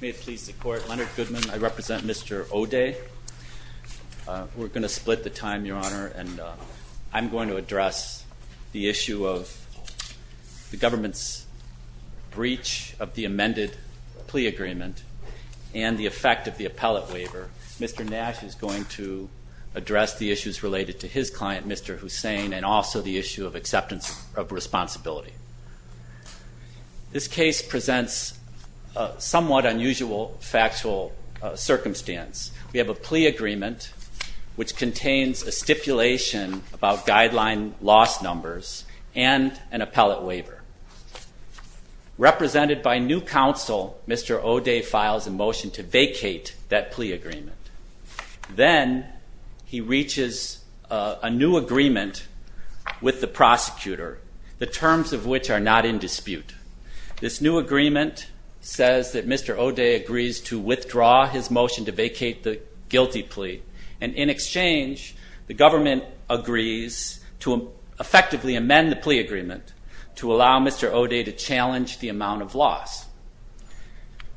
May it please the court, Leonard Goodman. I represent Mr. Odeh. We're going to split the time, Your Honor, and I'm going to address the issue of the government's breach of the amended plea agreement and the effect of the appellate waiver. Mr. Nash is going to address the issues related to his client, Mr. Hussain, and also the issue of acceptance of responsibility. This case presents a somewhat unusual factual circumstance. We have a plea agreement which contains a stipulation about guideline loss numbers and an appellate waiver. Represented by new counsel, Mr. Odeh files a motion to vacate that plea agreement. Then he reaches a new agreement with the prosecutor, the terms of which are not in dispute. This new agreement says that Mr. Odeh agrees to withdraw his motion to vacate the guilty plea. And in exchange, the government agrees to effectively amend the plea agreement to allow Mr. Odeh to challenge the amount of loss.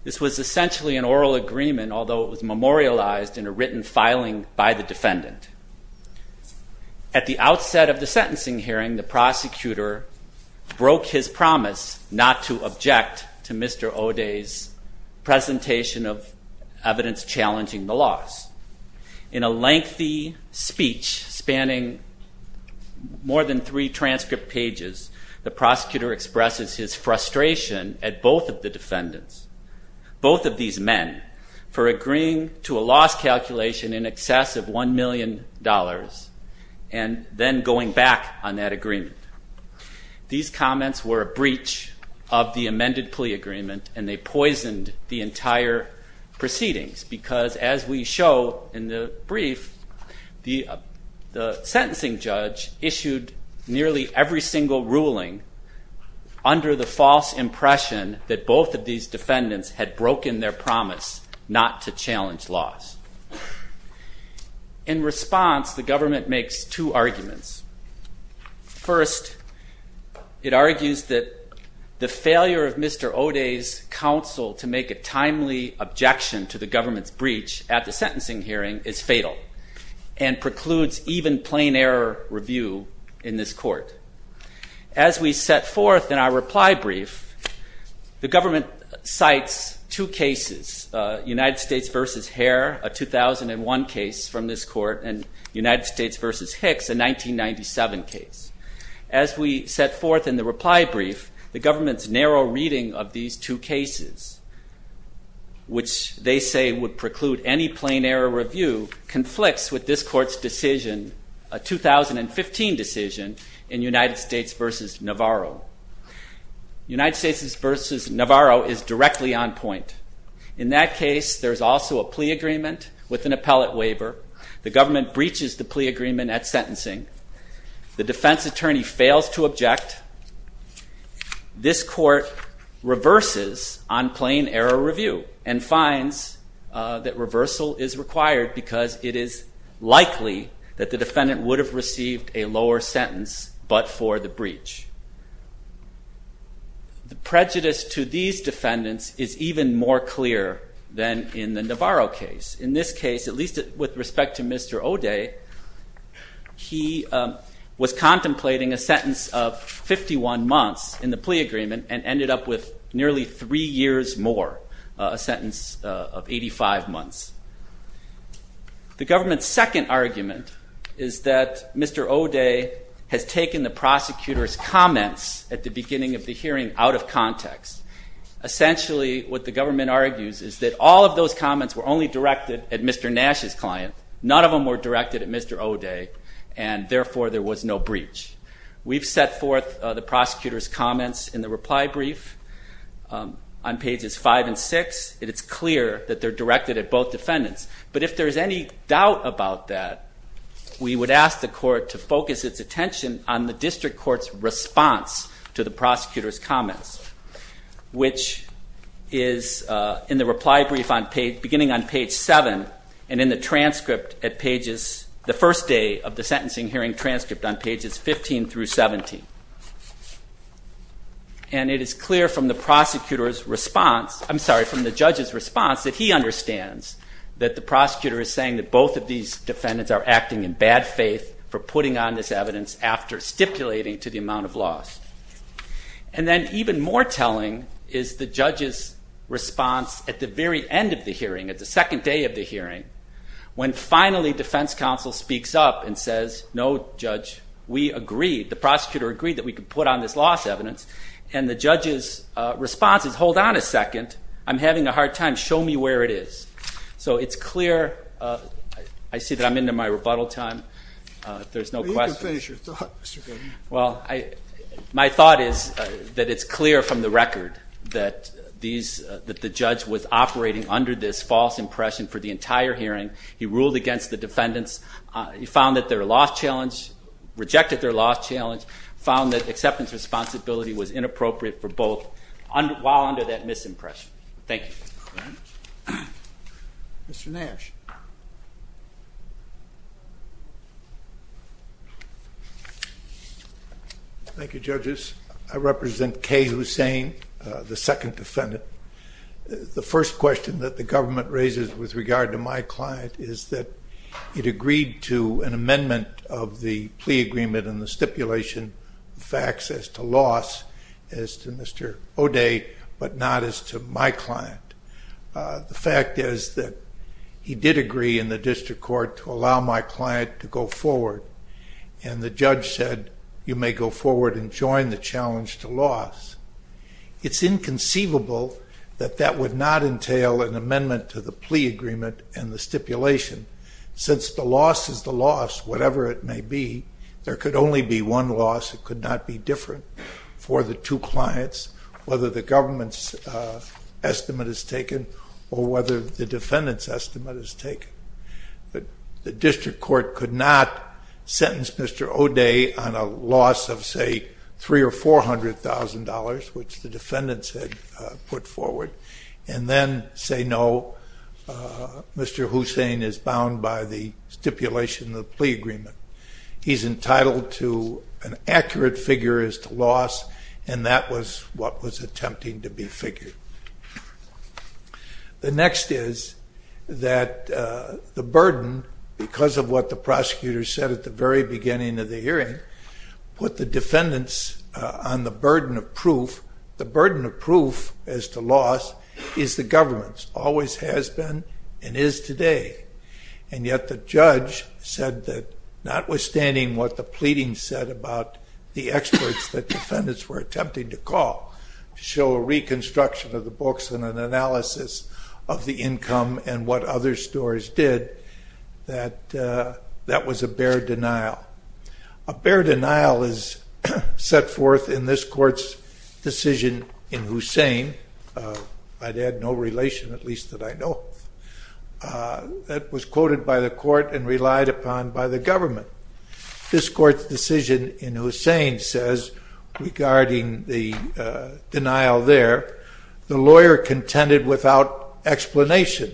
This was essentially an oral agreement, although it was memorialized in a written filing by the defendant. At the outset of the sentencing hearing, the prosecutor broke his promise not to object to Mr. Odeh's presentation of evidence challenging the loss. In a lengthy speech spanning more than three transcript pages, the prosecutor expresses his frustration at both of the defendants, both of these men, for agreeing to a loss calculation in excess of $1 million. And then going back on that agreement. These comments were a breach of the amended plea agreement and they poisoned the entire proceedings because, as we show in the brief, the sentencing judge issued nearly every single ruling under the false impression that both of these defendants had broken their promise not to challenge loss. In response, the government makes two arguments. First, it argues that the failure of Mr. Odeh's counsel to make a timely objection to the government's breach at the sentencing hearing is fatal and precludes even plain error review in this court. As we set forth in our reply brief, the government cites two cases, United States v. Hare, a 2001 case from this court, and United States v. Hicks, a 1997 case. As we set forth in the reply brief, the government's narrow reading of these two cases, which they say would preclude any plain error review, conflicts with this court's decision, a 2015 decision, in United States v. Navarro. United States v. Navarro is directly on point. In that case, there's also a plea agreement with an appellate waiver. The government breaches the plea agreement at sentencing. The defense attorney fails to object. This court reverses on plain error review and finds that reversal is required because it is likely that the defendant would have received a lower sentence but for the breach. The prejudice to these defendants is even more clear than in the Navarro case. In this case, at least with respect to Mr. Odeh, he was contemplating a sentence of 51 months in the plea agreement and ended up with nearly three years more, a sentence of 85 months. The government's second argument is that Mr. Odeh has taken the prosecutor's comments at the beginning of the hearing out of context. Essentially, what the government argues is that all of those comments were only directed at Mr. Nash's client, none of them were directed at Mr. Odeh, and therefore there was no breach. We've set forth the prosecutor's comments in the reply brief on pages 5 and 6, and it's clear that they're directed at both defendants. But if there's any doubt about that, we would ask the court to focus its attention on the district court's response to the prosecutor's comments, which is in the reply brief beginning on page 7 and in the transcript at pages... And it is clear from the judge's response that he understands that the prosecutor is saying that both of these defendants are acting in bad faith for putting on this evidence after stipulating to the amount of loss. And then even more telling is the judge's response at the very end of the hearing, at the second day of the hearing, when finally defense counsel speaks up and says, no, judge, we agreed, the prosecutor agreed that we could put on this loss evidence, and the judge's response is, hold on a second, I'm having a hard time, show me where it is. So it's clear, I see that I'm into my rebuttal time, if there's no questions. Well, my thought is that it's clear from the record that the judge was operating under this false impression for the entire hearing, he ruled against the defendants, he found that their loss challenge, rejected their loss challenge, found that acceptance responsibility was inappropriate for both, while under that misimpression. Thank you. Mr. Nash. Thank you, judges. I represent Kay Hussein, the second defendant. The first question that the government raises with regard to my client is that it agreed to an amendment of the plea agreement and the stipulation facts as to loss, as to Mr. O'Day, but not as to my client. The fact is that he did agree in the district court to allow my client to go forward, and the judge said, you may go forward and join the challenge to loss. It's inconceivable that that would not entail an amendment to the plea agreement and the stipulation. Since the loss is the loss, whatever it may be, there could only be one loss, it could not be different for the two clients, whether the government's estimate is taken or whether the defendant's estimate is taken. The district court could not sentence Mr. O'Day on a loss of, say, $300,000 or $400,000, which the defendants had put forward, and then say, no, Mr. Hussein is bound by the stipulation of the plea agreement. He's entitled to an accurate figure as to loss, and that was what was attempting to be figured. The next is that the burden, because of what the prosecutor said at the very beginning of the hearing, put the defendants on the burden of proof. The burden of proof as to loss is the government's, always has been, and is today. And yet the judge said that notwithstanding what the pleading said about the experts that defendants were attempting to call to show a reconstruction of the books and an analysis of the income and what other stores did, that that was a bare denial. A bare denial is set forth in this court's decision in Hussein, I'd add no relation, at least that I know of, that was quoted by the court and relied upon by the government. This court's decision in Hussein says, regarding the denial there, the lawyer contended without explanation,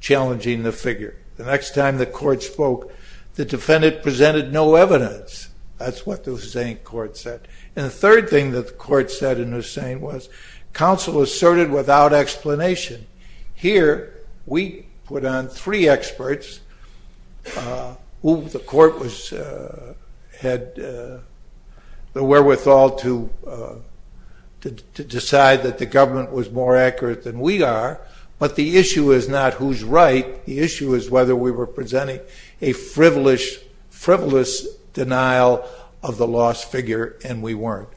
challenging the figure. The next time the court spoke, the defendant presented no evidence. That's what the Hussein court said. And the third thing that the court said in Hussein was, counsel asserted without explanation. Here, we put on three experts, who the court had the wherewithal to decide that the government was more accurate than we are, but the issue is not who's right, the issue is whether we were presenting a frivolous denial of the lost figure, and we weren't.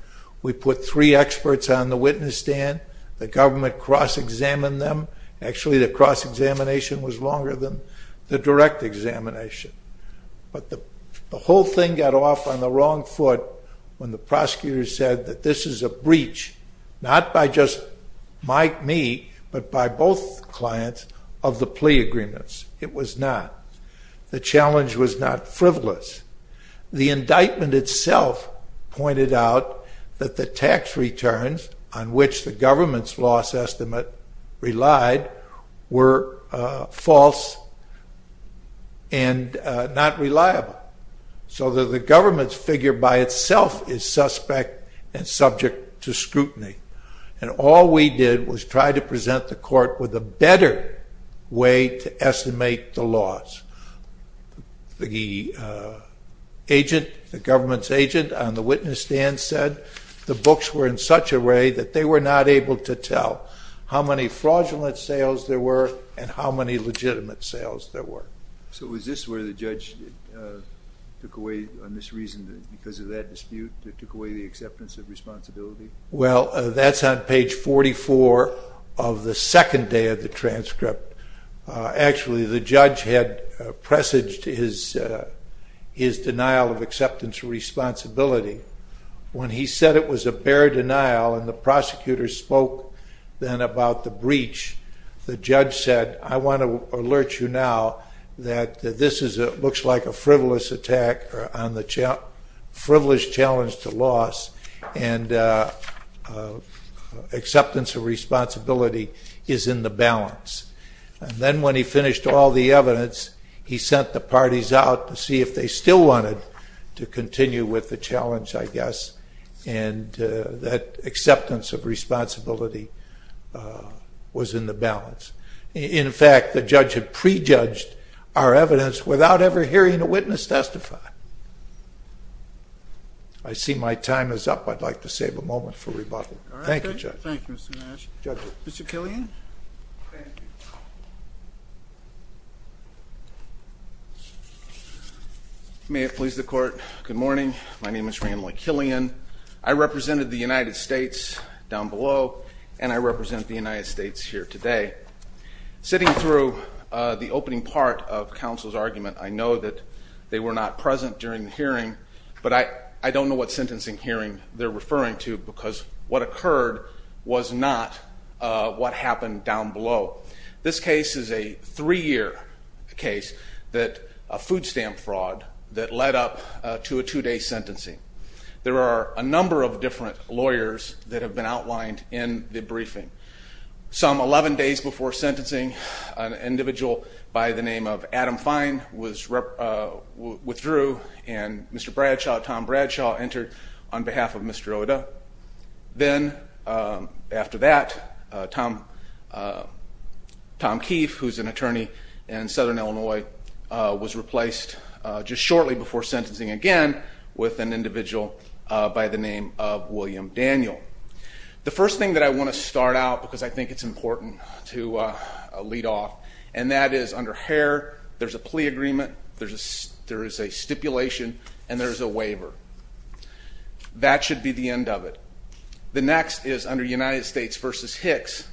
We put three experts on the witness stand, the government cross-examined them, actually the cross-examination was longer than the direct examination. But the whole thing got off on the wrong foot when the prosecutor said that this is a breach, not by just me, but by both clients of the plea agreements. It was not. The challenge was not frivolous. The indictment itself pointed out that the tax returns on which the government's loss estimate relied were false and not reliable. So the government's figure by itself is suspect and subject to scrutiny. And all we did was try to present the court with a better way to estimate the loss. The government's agent on the witness stand said the books were in such a way that they were not able to tell how many fraudulent sales there were and how many legitimate sales there were. So is this where the judge took away, on this reason, because of that dispute, took away the acceptance of responsibility? Well, that's on page 44 of the second day of the transcript. Actually, the judge had presaged his denial of acceptance of responsibility. When he said it was a bare denial and the prosecutor spoke then about the breach, the judge said, I want to alert you now that this looks like a frivolous challenge to loss and acceptance of responsibility is in the balance. And then when he finished all the evidence, he sent the parties out to see if they still wanted to continue with the challenge, I guess. And that acceptance of responsibility was in the balance. In fact, the judge had prejudged our evidence without ever hearing a witness testify. I see my time is up. I'd like to save a moment for rebuttal. Thank you, Judge. Thank you, Mr. Nash. Mr. Killian? Thank you. May it please the court. Good morning. My name is Randall Killian. I represented the United States down below, and I represent the United States here today. Sitting through the opening part of counsel's argument, I know that they were not present during the hearing, but I don't know what sentencing hearing they're referring to, because what occurred was not what happened down below. This case is a three-year case, a food stamp fraud that led up to a two-day sentencing. There are a number of different lawyers that have been outlined in the briefing. Some 11 days before sentencing, an individual by the name of Adam Fine withdrew, and Mr. Bradshaw, Tom Bradshaw, entered on behalf of Mr. Oda. Then, after that, Tom Keefe, who's an attorney in Southern Illinois, was replaced just shortly before sentencing again with an individual by the name of William Daniel. The first thing that I want to start out, because I think it's important to lead off, and that is under Hare, there's a plea agreement, there is a stipulation, and there is a waiver. That should be the end of it. The next is under United States v. Hicks.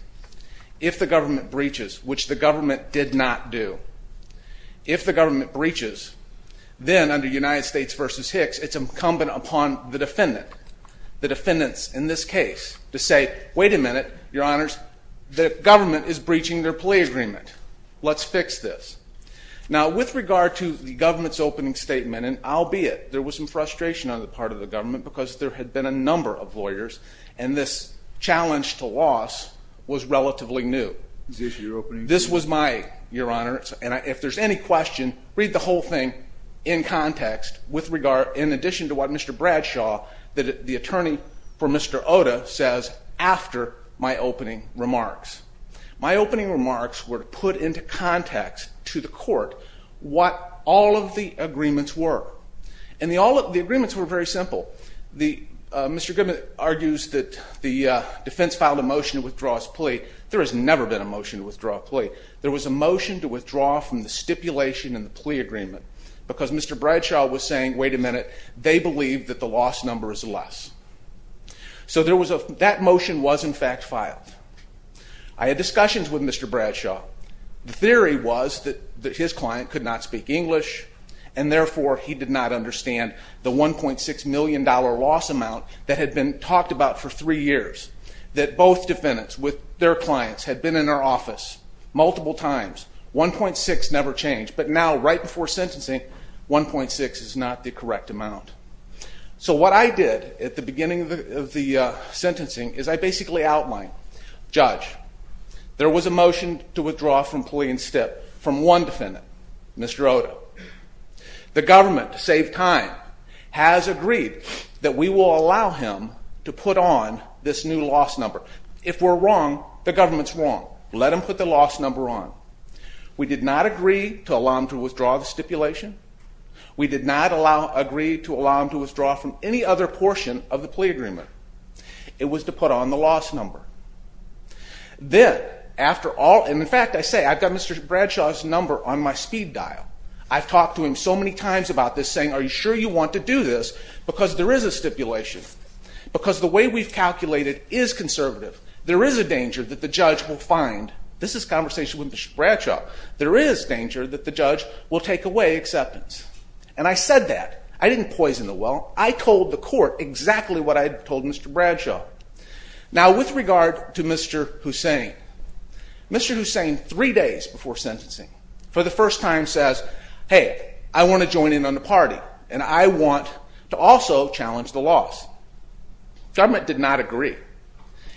If the government breaches, which the government did not do, if the government breaches, then under United States v. Hicks, it's incumbent upon the defendant, the defendants in this case, to say, wait a minute, your honors, the government is breaching their plea agreement. Let's fix this. Now, with regard to the government's opening statement, and I'll be it, there was some frustration on the part of the government because there had been a number of lawyers, and this challenge to loss was relatively new. This was my, your honors, and if there's any question, read the whole thing in context, in addition to what Mr. Bradshaw, the attorney for Mr. Oda, says after my opening remarks. My opening remarks were to put into context to the court what all of the agreements were. And the agreements were very simple. Mr. Goodman argues that the defense filed a motion to withdraw his plea. There has never been a motion to withdraw a plea. There was a motion to withdraw from the stipulation in the plea agreement because Mr. Bradshaw was saying, wait a minute, they believe that the loss number is less. So that motion was, in fact, filed. I had discussions with Mr. Bradshaw. The theory was that his client could not speak English, and therefore he did not understand the $1.6 million loss amount that had been talked about for three years. That both defendants with their clients had been in our office multiple times. 1.6 never changed. But now, right before sentencing, 1.6 is not the correct amount. So what I did at the beginning of the sentencing is I basically outlined, judge, there was a motion to withdraw from plea and stip from one defendant, Mr. Oda. The government, to save time, has agreed that we will allow him to put on this new loss number. If we're wrong, the government's wrong. Let him put the loss number on. We did not agree to allow him to withdraw the stipulation. We did not agree to allow him to withdraw from any other portion of the plea agreement. It was to put on the loss number. Then, after all, and in fact, I say, I've got Mr. Bradshaw's number on my speed dial. I've talked to him so many times about this, saying, are you sure you want to do this? Because there is a stipulation. Because the way we've calculated is conservative. There is a danger that the judge will find, this is a conversation with Mr. Bradshaw, there is danger that the judge will take away acceptance. And I said that. I didn't poison the well. I told the court exactly what I had told Mr. Bradshaw. Now, with regard to Mr. Hussain, Mr. Hussain, three days before sentencing, for the first time, says, hey, I want to join in on the party, and I want to also challenge the loss. The government did not agree.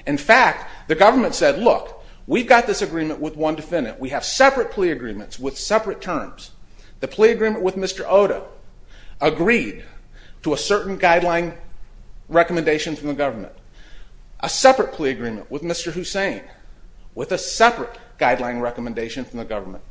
In fact, the government said, look, we've got this agreement with one defendant. We have separate plea agreements with separate terms. The plea agreement with Mr. Oda agreed to a certain guideline recommendation from the government. A separate plea agreement with Mr. Hussain with a separate guideline recommendation from the government.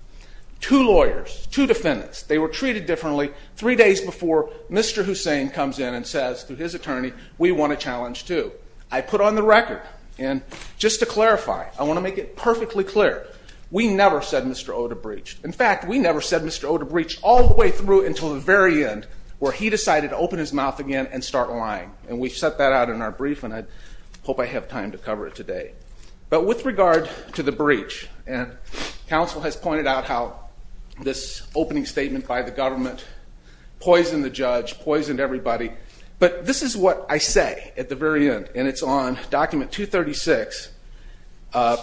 Two lawyers, two defendants, they were treated differently three days before Mr. Hussain comes in and says to his attorney, we want to challenge too. I put on the record, and just to clarify, I want to make it perfectly clear, we never said Mr. Oda breached. In fact, we never said Mr. Oda breached all the way through until the very end, where he decided to open his mouth again and start lying. And we set that out in our brief, and I hope I have time to cover it today. But with regard to the breach, and counsel has pointed out how this opening statement by the government poisoned the judge, poisoned everybody, but this is what I say at the very end, and it's on document 236,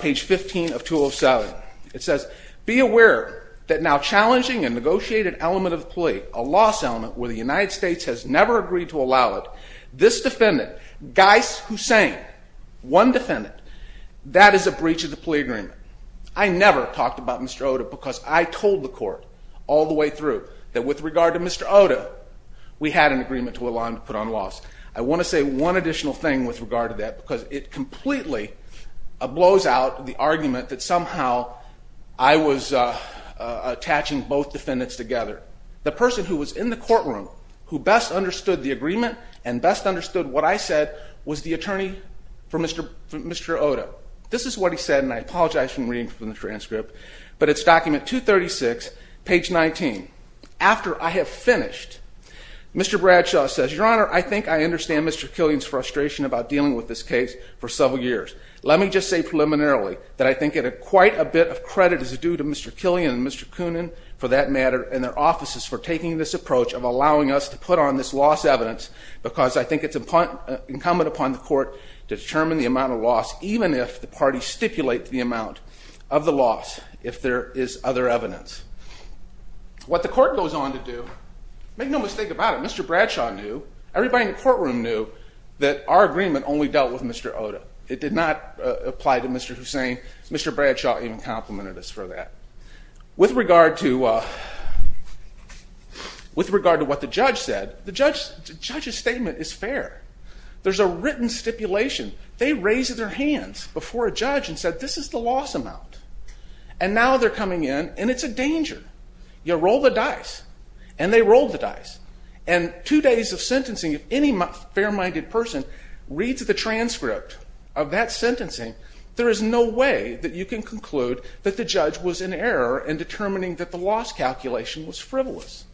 page 15 of 207. It says, be aware that now challenging a negotiated element of the plea, a loss element where the United States has never agreed to allow it, this defendant, Gais Hussain, one defendant, that is a breach of the plea agreement. I never talked about Mr. Oda because I told the court all the way through that with regard to Mr. Oda, we had an agreement to allow him to put on loss. I want to say one additional thing with regard to that because it completely blows out the argument that somehow I was attaching both defendants together. The person who was in the courtroom who best understood the agreement and best understood what I said was the attorney for Mr. Oda. This is what he said, and I apologize for reading from the transcript, but it's document 236, page 19. After I have finished, Mr. Bradshaw says, Your Honor, I think I understand Mr. Killian's frustration about dealing with this case for several years. Let me just say preliminarily that I think quite a bit of credit is due to Mr. Killian and Mr. Coonan for that matter and their offices for taking this approach of allowing us to put on this loss evidence because I think it's incumbent upon the court to determine the amount of loss even if the parties stipulate the amount of the loss if there is other evidence. What the court goes on to do, make no mistake about it, Mr. Bradshaw knew, everybody in the courtroom knew that our agreement only dealt with Mr. Oda. It did not apply to Mr. Hussain. Mr. Bradshaw even complimented us for that. With regard to what the judge said, the judge's statement is fair. There's a written stipulation. They raised their hands before a judge and said, This is the loss amount. And now they're coming in and it's a danger. You roll the dice. And they rolled the dice. And two days of sentencing, if any fair-minded person reads the transcript of that sentencing, there is no way that you can conclude that the judge was in error in determining that the loss calculation was frivolous.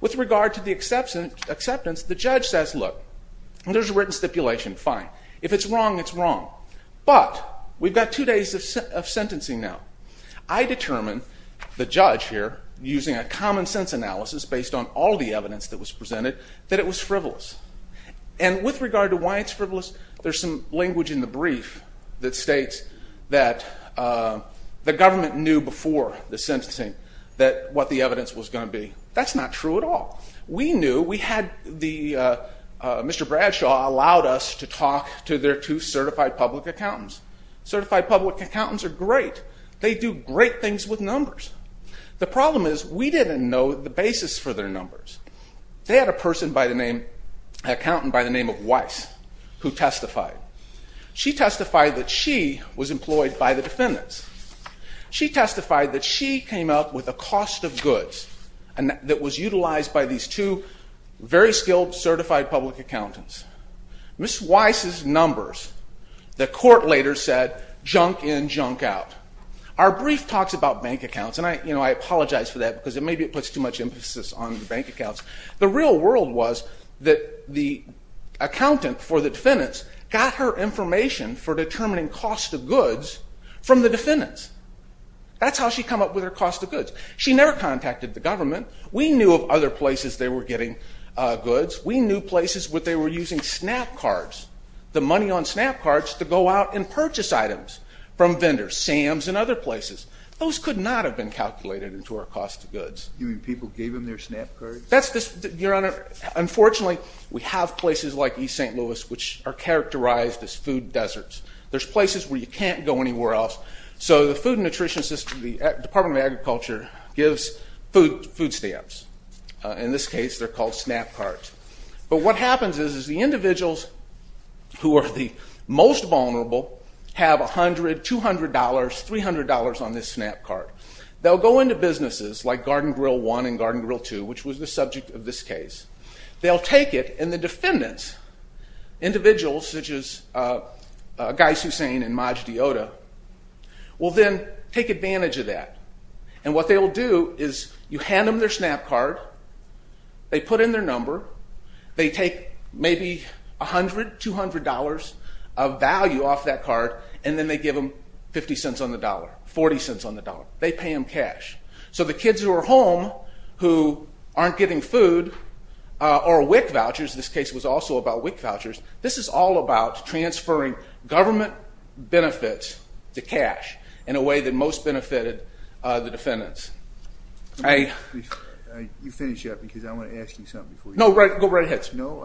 With regard to the acceptance, the judge says, Look, there's a written stipulation. Fine. If it's wrong, it's wrong. But we've got two days of sentencing now. I determined, the judge here, using a common-sense analysis based on all the evidence that was presented, that it was frivolous. And with regard to why it's frivolous, there's some language in the brief that states that the government knew before the sentencing that what the evidence was going to be. That's not true at all. We knew we had the Mr. Bradshaw allowed us to talk to their two certified public accountants. Certified public accountants are great. They do great things with numbers. The problem is we didn't know the basis for their numbers. They had a person by the name, an accountant by the name of Weiss, who testified. She testified that she was employed by the defendants. She testified that she came up with a cost of goods that was utilized by these two very skilled, certified public accountants. Ms. Weiss's numbers, the court later said, junk in, junk out. Our brief talks about bank accounts. And I apologize for that because maybe it puts too much emphasis on bank accounts. The real world was that the accountant for the defendants got her information for determining cost of goods from the defendants. That's how she come up with her cost of goods. She never contacted the government. We knew of other places they were getting goods. We knew places where they were using Snap Cards, the money on Snap Cards, to go out and purchase items from vendors, Sam's and other places. Those could not have been calculated into our cost of goods. You mean people gave them their Snap Cards? Your Honor, unfortunately, we have places like East St. Louis which are characterized as food deserts. There's places where you can't go anywhere else. So the Department of Agriculture gives food stamps. In this case, they're called Snap Cards. But what happens is the individuals who are the most vulnerable have $100, $200, $300 on this Snap Card. They'll go into businesses like Garden Grill 1 and Garden Grill 2, which was the subject of this case. They'll take it, and the defendants, individuals such as Guy Sussane and Maj Deoda, will then take advantage of that. And what they'll do is you hand them their Snap Card, they put in their number, they take maybe $100, $200 of value off that card, and then they give them $0.50 on the dollar, $0.40 on the dollar. They pay them cash. So the kids who are home who aren't getting food or WIC vouchers, this case was also about WIC vouchers, this is all about transferring government benefits to cash in a way that most benefited the defendants. You finish up because I want to ask you something. No, go right ahead, sir. No,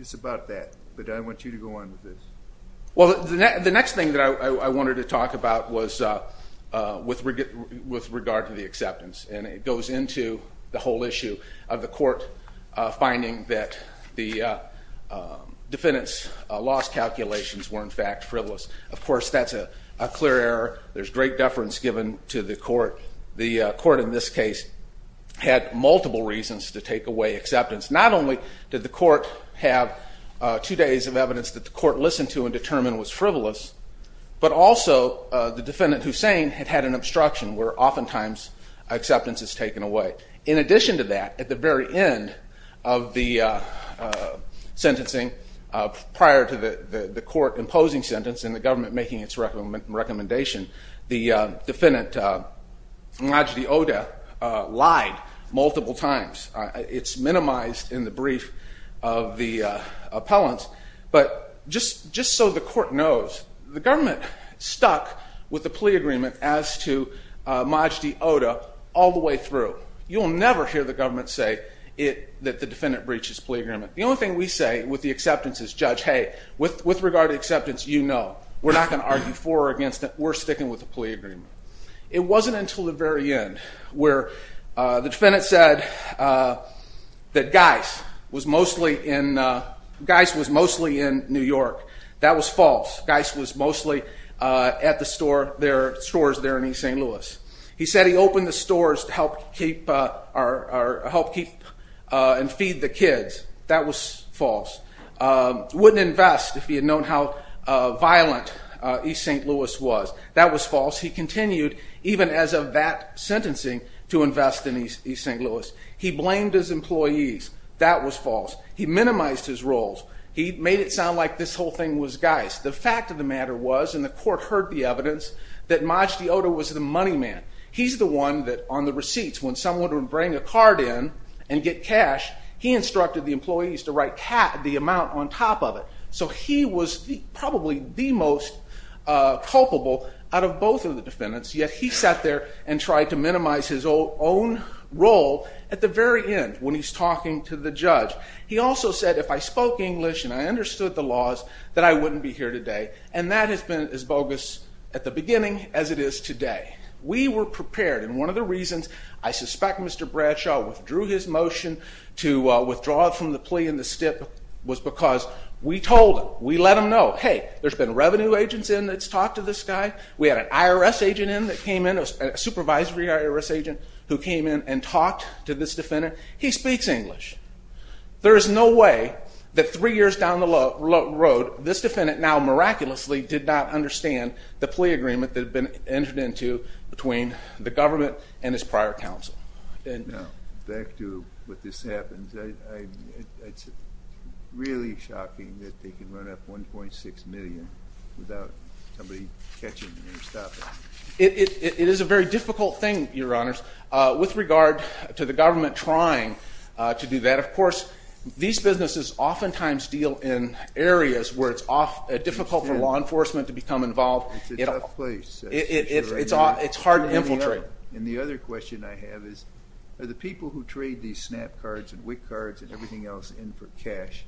it's about that, but I want you to go on with this. Well, the next thing that I wanted to talk about was with regard to the acceptance, and it goes into the whole issue of the court finding that the defendants' loss calculations were, in fact, frivolous. Of course, that's a clear error. There's great deference given to the court. The court in this case had multiple reasons to take away acceptance. Not only did the court have two days of evidence that the court listened to and determined was frivolous, but also the defendant, Hussein, had had an obstruction where oftentimes acceptance is taken away. In addition to that, at the very end of the sentencing prior to the court imposing sentence and the government making its recommendation, the defendant, Najdi Odeh, lied multiple times. It's minimized in the brief of the appellant, but just so the court knows, the government stuck with the plea agreement as to Najdi Odeh all the way through. You will never hear the government say that the defendant breaches plea agreement. The only thing we say with the acceptance is, Judge, hey, with regard to acceptance, you know. We're not going to argue for or against it. We're sticking with the plea agreement. It wasn't until the very end where the defendant said that Geis was mostly in New York. That was false. Geis was mostly at the stores there in East St. Louis. He said he opened the stores to help keep and feed the kids. That was false. Wouldn't invest if he had known how violent East St. Louis was. That was false. He continued, even as of that sentencing, to invest in East St. Louis. He blamed his employees. That was false. He minimized his roles. He made it sound like this whole thing was Geis. The fact of the matter was, and the court heard the evidence, that Najdi Odeh was the money man. He's the one that on the receipts, when someone would bring a card in and get cash, he instructed the employees to write the amount on top of it. So he was probably the most culpable out of both of the defendants, yet he sat there and tried to minimize his own role at the very end when he's talking to the judge. He also said, if I spoke English and I understood the laws, that I wouldn't be here today. And that has been as bogus at the beginning as it is today. We were prepared, and one of the reasons I suspect Mr. Bradshaw withdrew his motion to withdraw from the plea in the stip was because we told him, we let him know, hey, there's been revenue agents in that's talked to this guy. We had an IRS agent in that came in, a supervisory IRS agent, who came in and talked to this defendant. He speaks English. There is no way that three years down the road, this defendant now miraculously did not understand the plea agreement that had been entered into between the government and his prior counsel. Now, back to what this happens. It's really shocking that they can run up $1.6 million without somebody catching them and stopping them. It is a very difficult thing, Your Honors. With regard to the government trying to do that, of course, these businesses oftentimes deal in areas where it's difficult for law enforcement to become involved. It's a tough place. It's hard to infiltrate. And the other question I have is are the people who trade these SNAP cards and WIC cards and everything else in for cash,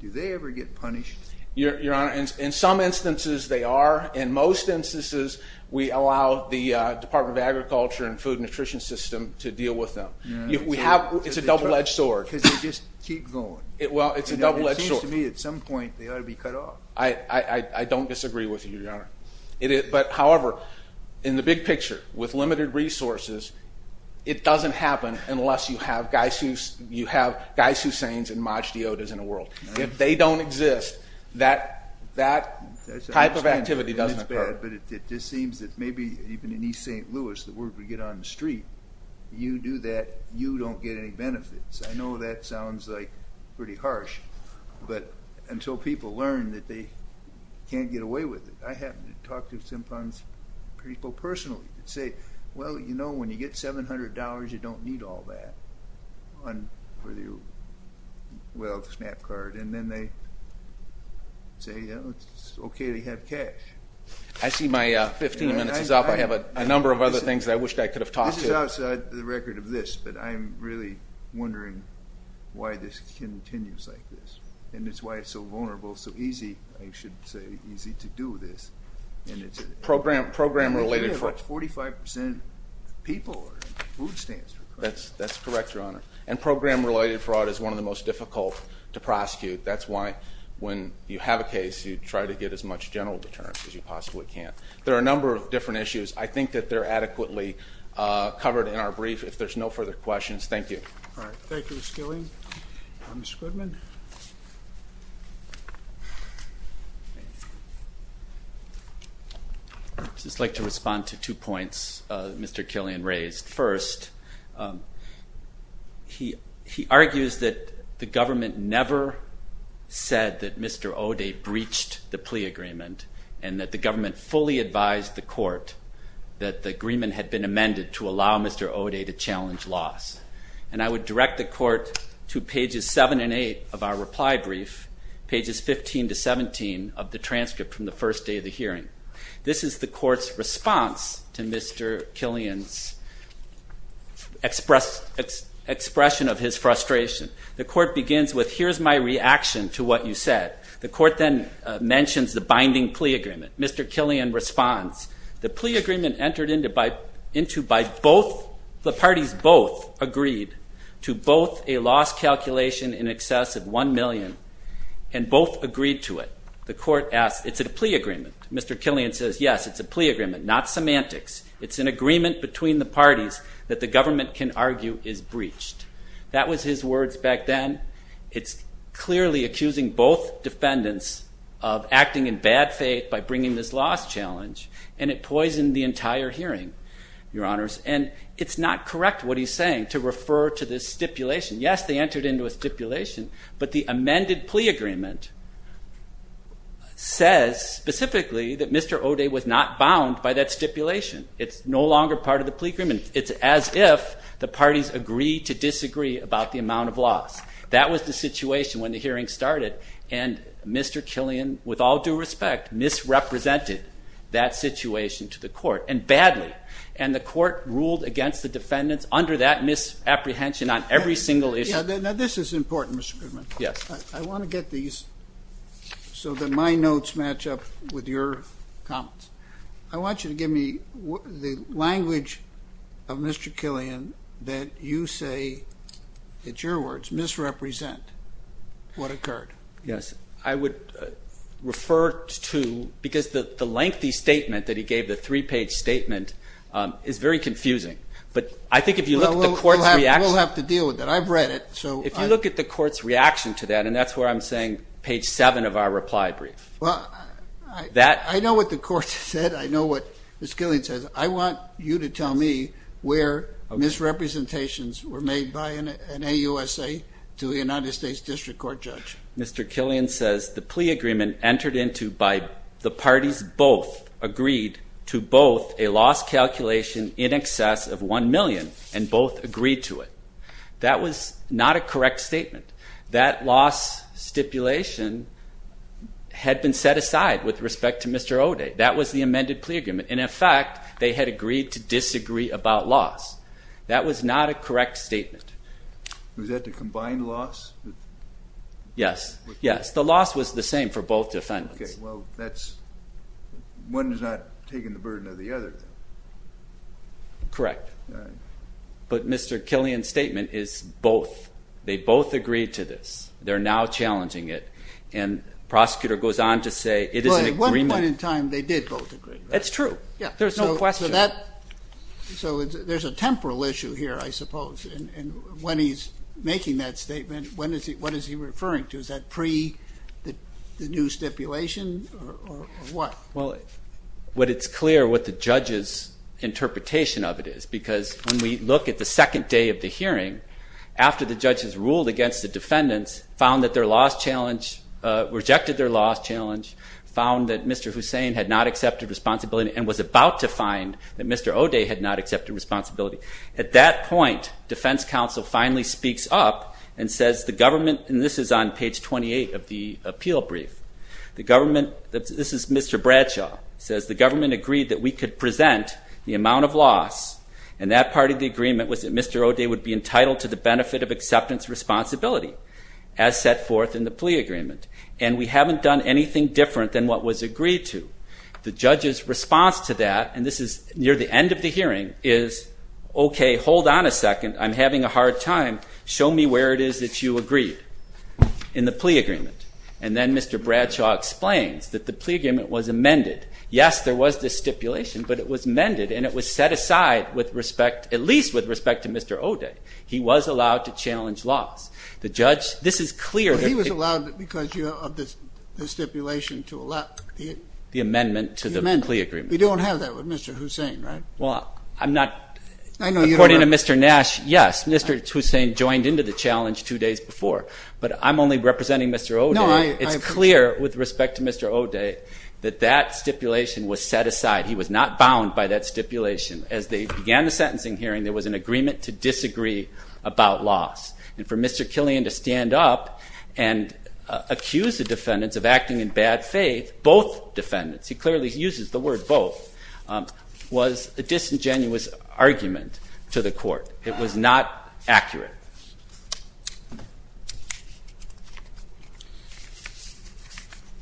do they ever get punished? Your Honor, in some instances they are. In most instances we allow the Department of Agriculture and Food and Nutrition System to deal with them. It's a double-edged sword. Because they just keep going. Well, it's a double-edged sword. It seems to me at some point they ought to be cut off. I don't disagree with you, Your Honor. But, however, in the big picture, with limited resources, it doesn't happen unless you have Gysus, you have Gysusanes and Majdeotas in the world. If they don't exist, that type of activity doesn't occur. But it just seems that maybe even in East St. Louis, the word would get on the street, you do that, you don't get any benefits. I know that sounds like pretty harsh. But until people learn that they can't get away with it, I happen to talk to some people personally who say, well, you know, when you get $700, you don't need all that. Well, the SNAP card. And then they say it's okay to have cash. I see my 15 minutes is up. I have a number of other things that I wish I could have talked to. This is outside the record of this, but I'm really wondering why this continues like this. And it's why it's so vulnerable, so easy, I should say, easy to do this. Program related fraud. And we have 45% of the people are in food stands. That's correct, Your Honor. And program related fraud is one of the most difficult to prosecute. That's why when you have a case, you try to get as much general deterrence as you possibly can. There are a number of different issues. I think that they're adequately covered in our brief. If there's no further questions, thank you. All right, thank you, Mr. Gillian. Mr. Goodman. I'd just like to respond to two points Mr. Gillian raised. First, he argues that the government never said that Mr. Oday breached the plea agreement and that the government fully advised the court that the agreement had been amended to allow Mr. Oday to challenge laws. And I would direct the court to pages 7 and 8 of our reply brief, pages 15 to 17 of the transcript from the first day of the hearing. This is the court's response to Mr. Gillian's expression of his frustration. The court begins with, here's my reaction to what you said. The court then mentions the binding plea agreement. Mr. Gillian responds, The plea agreement entered into by both, the parties both agreed to both a loss calculation in excess of $1 million and both agreed to it. The court asks, is it a plea agreement? Mr. Gillian says, yes, it's a plea agreement, not semantics. It's an agreement between the parties that the government can argue is breached. That was his words back then. It's clearly accusing both defendants of acting in bad faith by bringing this loss challenge and it poisoned the entire hearing, your honors. And it's not correct what he's saying to refer to this stipulation. Yes, they entered into a stipulation, but the amended plea agreement says specifically that Mr. Oday was not bound by that stipulation. It's no longer part of the plea agreement. It's as if the parties agree to disagree about the amount of loss. That was the situation when the hearing started and Mr. Gillian, with all due respect, misrepresented that situation to the court, and badly. And the court ruled against the defendants under that misapprehension on every single issue. Now this is important, Mr. Goodman. Yes. I want to get these so that my notes match up with your comments. I want you to give me the language of Mr. Gillian that you say, it's your words, misrepresent what occurred. Yes. I would refer to, because the lengthy statement that he gave, the three-page statement, is very confusing. But I think if you look at the court's reaction. Well, we'll have to deal with it. I've read it, so. If you look at the court's reaction to that, and that's where I'm saying page seven of our reply brief. I know what the court said. I know what Ms. Gillian says. I want you to tell me where misrepresentations were made by an AUSA to a United States District Court judge. Mr. Gillian says the plea agreement entered into by the parties both agreed to both a loss calculation in excess of one million, and both agreed to it. That was not a correct statement. That loss stipulation had been set aside with respect to Mr. O'Day. That was the amended plea agreement. And, in fact, they had agreed to disagree about loss. That was not a correct statement. Was that the combined loss? Yes. Yes, the loss was the same for both defendants. Okay, well, that's, one has not taken the burden of the other. Correct. All right. But Mr. Gillian's statement is both. They both agreed to this. They're now challenging it. And the prosecutor goes on to say it is an agreement. Well, at one point in time, they did both agree. That's true. There's no question. So there's a temporal issue here, I suppose. And when he's making that statement, what is he referring to? Is that pre the new stipulation or what? Well, what it's clear what the judge's interpretation of it is. Because when we look at the second day of the hearing, after the judge has ruled against the defendants, found that their loss challenge, rejected their loss challenge, found that Mr. Hussein had not accepted responsibility and was about to find that Mr. O'Day had not accepted responsibility. At that point, defense counsel finally speaks up and says the government, and this is on page 28 of the appeal brief, the government, this is Mr. Bradshaw, says the government agreed that we could present the amount of loss, and that part of the agreement was that Mr. O'Day would be entitled to the benefit of acceptance responsibility as set forth in the plea agreement. And we haven't done anything different than what was agreed to. The judge's response to that, and this is near the end of the hearing, is okay, hold on a second, I'm having a hard time. Show me where it is that you agreed in the plea agreement. And then Mr. Bradshaw explains that the plea agreement was amended. Yes, there was this stipulation, but it was amended, and it was set aside with respect, at least with respect to Mr. O'Day. He was allowed to challenge loss. The judge, this is clear. He was allowed because of the stipulation to allow the amendment to the plea agreement. We don't have that with Mr. Hussein, right? Well, I'm not, according to Mr. Nash, yes, Mr. Hussein joined into the challenge two days before, but I'm only representing Mr. O'Day. It's clear with respect to Mr. O'Day that that stipulation was set aside. He was not bound by that stipulation. As they began the sentencing hearing, there was an agreement to disagree about loss. And for Mr. Killian to stand up and accuse the defendants of acting in bad faith, both defendants, he clearly uses the word both, was a disingenuous argument to the court. It was not accurate.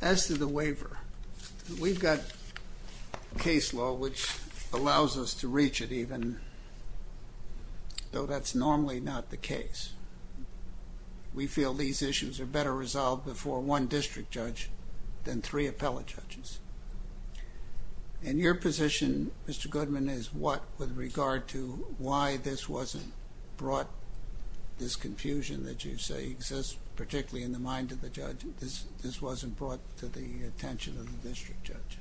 As to the waiver, we've got case law which allows us to reach it even, though that's normally not the case. We feel these issues are better resolved before one district judge than three appellate judges. And your position, Mr. Goodman, is what, with regard to why this wasn't brought, this confusion that you say exists, particularly in the mind of the judge, this wasn't brought to the attention of the district judge?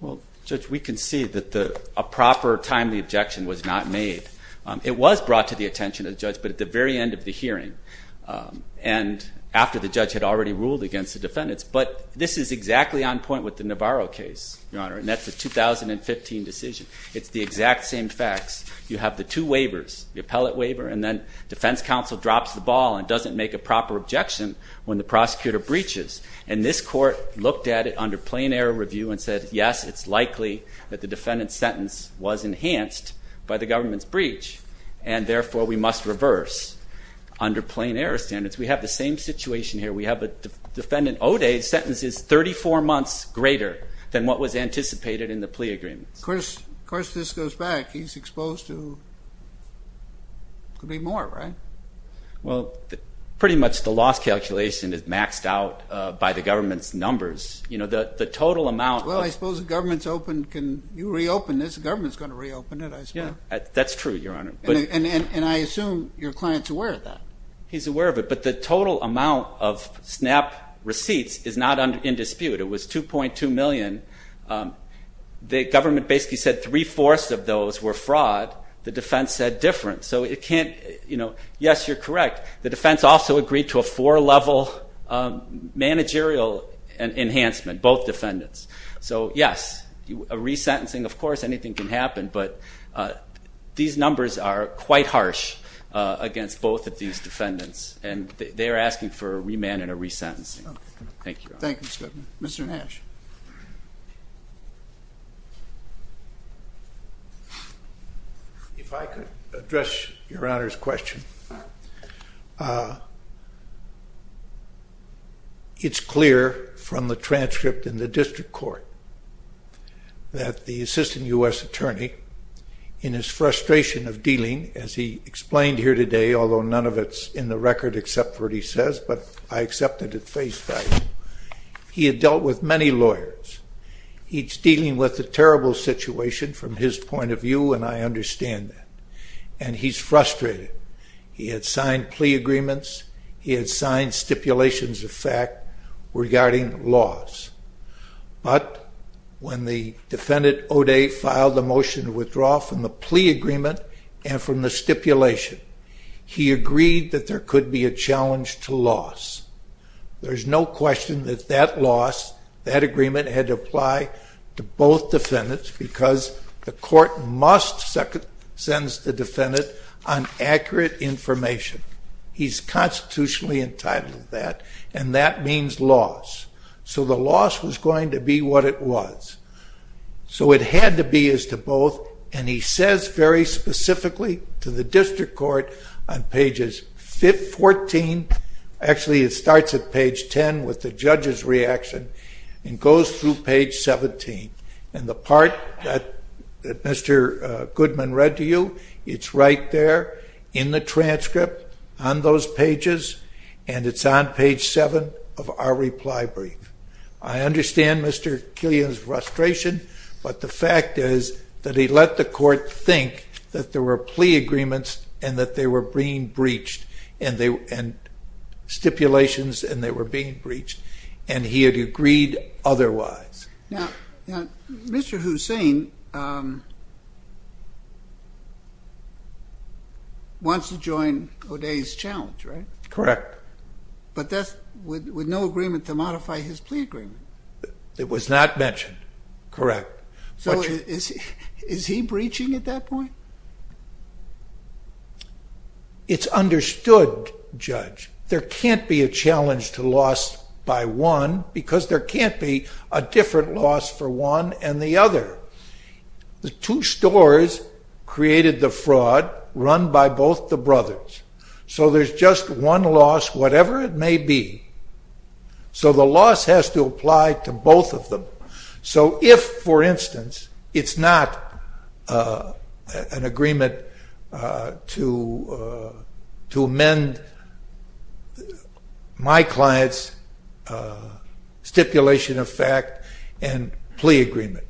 Well, Judge, we can see that a proper, timely objection was not made. It was brought to the attention of the judge, but at the very end of the hearing and after the judge had already ruled against the defendants, but this is exactly on point with the Navarro case, Your Honor, and that's a 2015 decision. It's the exact same facts. You have the two waivers, the appellate waiver and then defense counsel drops the ball and doesn't make a proper objection when the prosecutor breaches. And this court looked at it under plain error review and said, yes, it's likely that the defendant's sentence was enhanced by the government's breach and therefore we must reverse under plain error standards. We have the same situation here. We have a defendant O'Day's sentence is 34 months greater than what was anticipated in the plea agreement. Of course this goes back. He's exposed to could be more, right? Well, pretty much the loss calculation is maxed out by the government's numbers. You know, the total amount. Well, I suppose the government's open. Can you reopen this? The government's going to reopen it, I suppose. That's true, Your Honor. And I assume your client's aware of that. He's aware of it. But the total amount of SNAP receipts is not in dispute. It was 2.2 million. The government basically said three-fourths of those were fraud. The defense said different. So it can't, you know, yes, you're correct. The defense also agreed to a four-level managerial enhancement, both defendants. So, yes, a resentencing, of course, anything can happen. But these numbers are quite harsh against both of these defendants. And they are asking for a remand and a resentencing. Thank you, Your Honor. Thank you, Mr. Goodman. Mr. Nash. If I could address Your Honor's question. It's clear from the transcript in the district court that the assistant U.S. attorney, in his frustration of dealing, as he explained here today, although none of it's in the record except for what he says, but I accept it at face value, he had dealt with many lawyers. He's dealing with a terrible situation from his point of view, and I understand that. And he's frustrated. He had signed plea agreements. He had signed stipulations of fact regarding laws. But when the defendant O'Day filed a motion to withdraw from the plea agreement and from the stipulation, he agreed that there could be a challenge to laws. There's no question that that laws, that agreement had to apply to both the defendant on accurate information. He's constitutionally entitled to that, and that means laws. So the laws was going to be what it was. So it had to be as to both. And he says very specifically to the district court on pages 14, actually it starts at page 10 with the judge's reaction, and goes through page 17. And the part that Mr. Goodman read to you, it's right there in the transcript on those pages, and it's on page 7 of our reply brief. I understand Mr. Killian's frustration, but the fact is that he let the court think that there were plea agreements and that they were being breached, and stipulations, and they were being breached, and he had agreed otherwise. Now, Mr. Hussein wants to join O'Day's challenge, right? Correct. But that's with no agreement to modify his plea agreement. It was not mentioned. Correct. So is he breaching at that point? It's understood, Judge. There can't be a challenge to laws by one, because there can't be a different loss for one and the other. The two stores created the fraud run by both the brothers. So there's just one loss, whatever it may be. So the loss has to apply to both of them. So if, for instance, it's not an agreement to amend my client's stipulation of fact and plea agreement,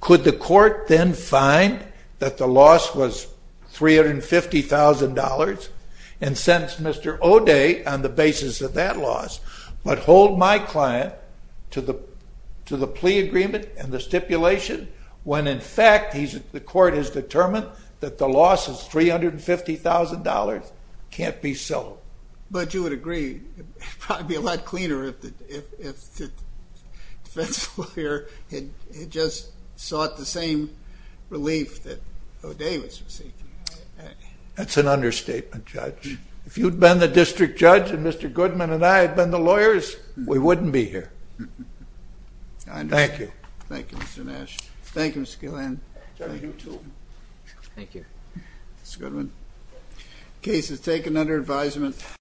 could the court then find that the loss was $350,000 and sentence Mr. O'Day on the basis of that loss, but hold my client to the plea agreement and the stipulation when, in fact, the court has determined that the loss is $350,000, can't be sold? But you would agree it would probably be a lot cleaner if the defense lawyer had just sought the same relief that O'Day was seeking. That's an understatement, Judge. If you'd been the district judge and Mr. Goodman and I had been the lawyers, we wouldn't be here. Thank you. I understand. Thank you, Mr. Nash. Thank you, Mr. Gilland. Thank you, too. Thank you. Mr. Goodman. Case is taken under advisement.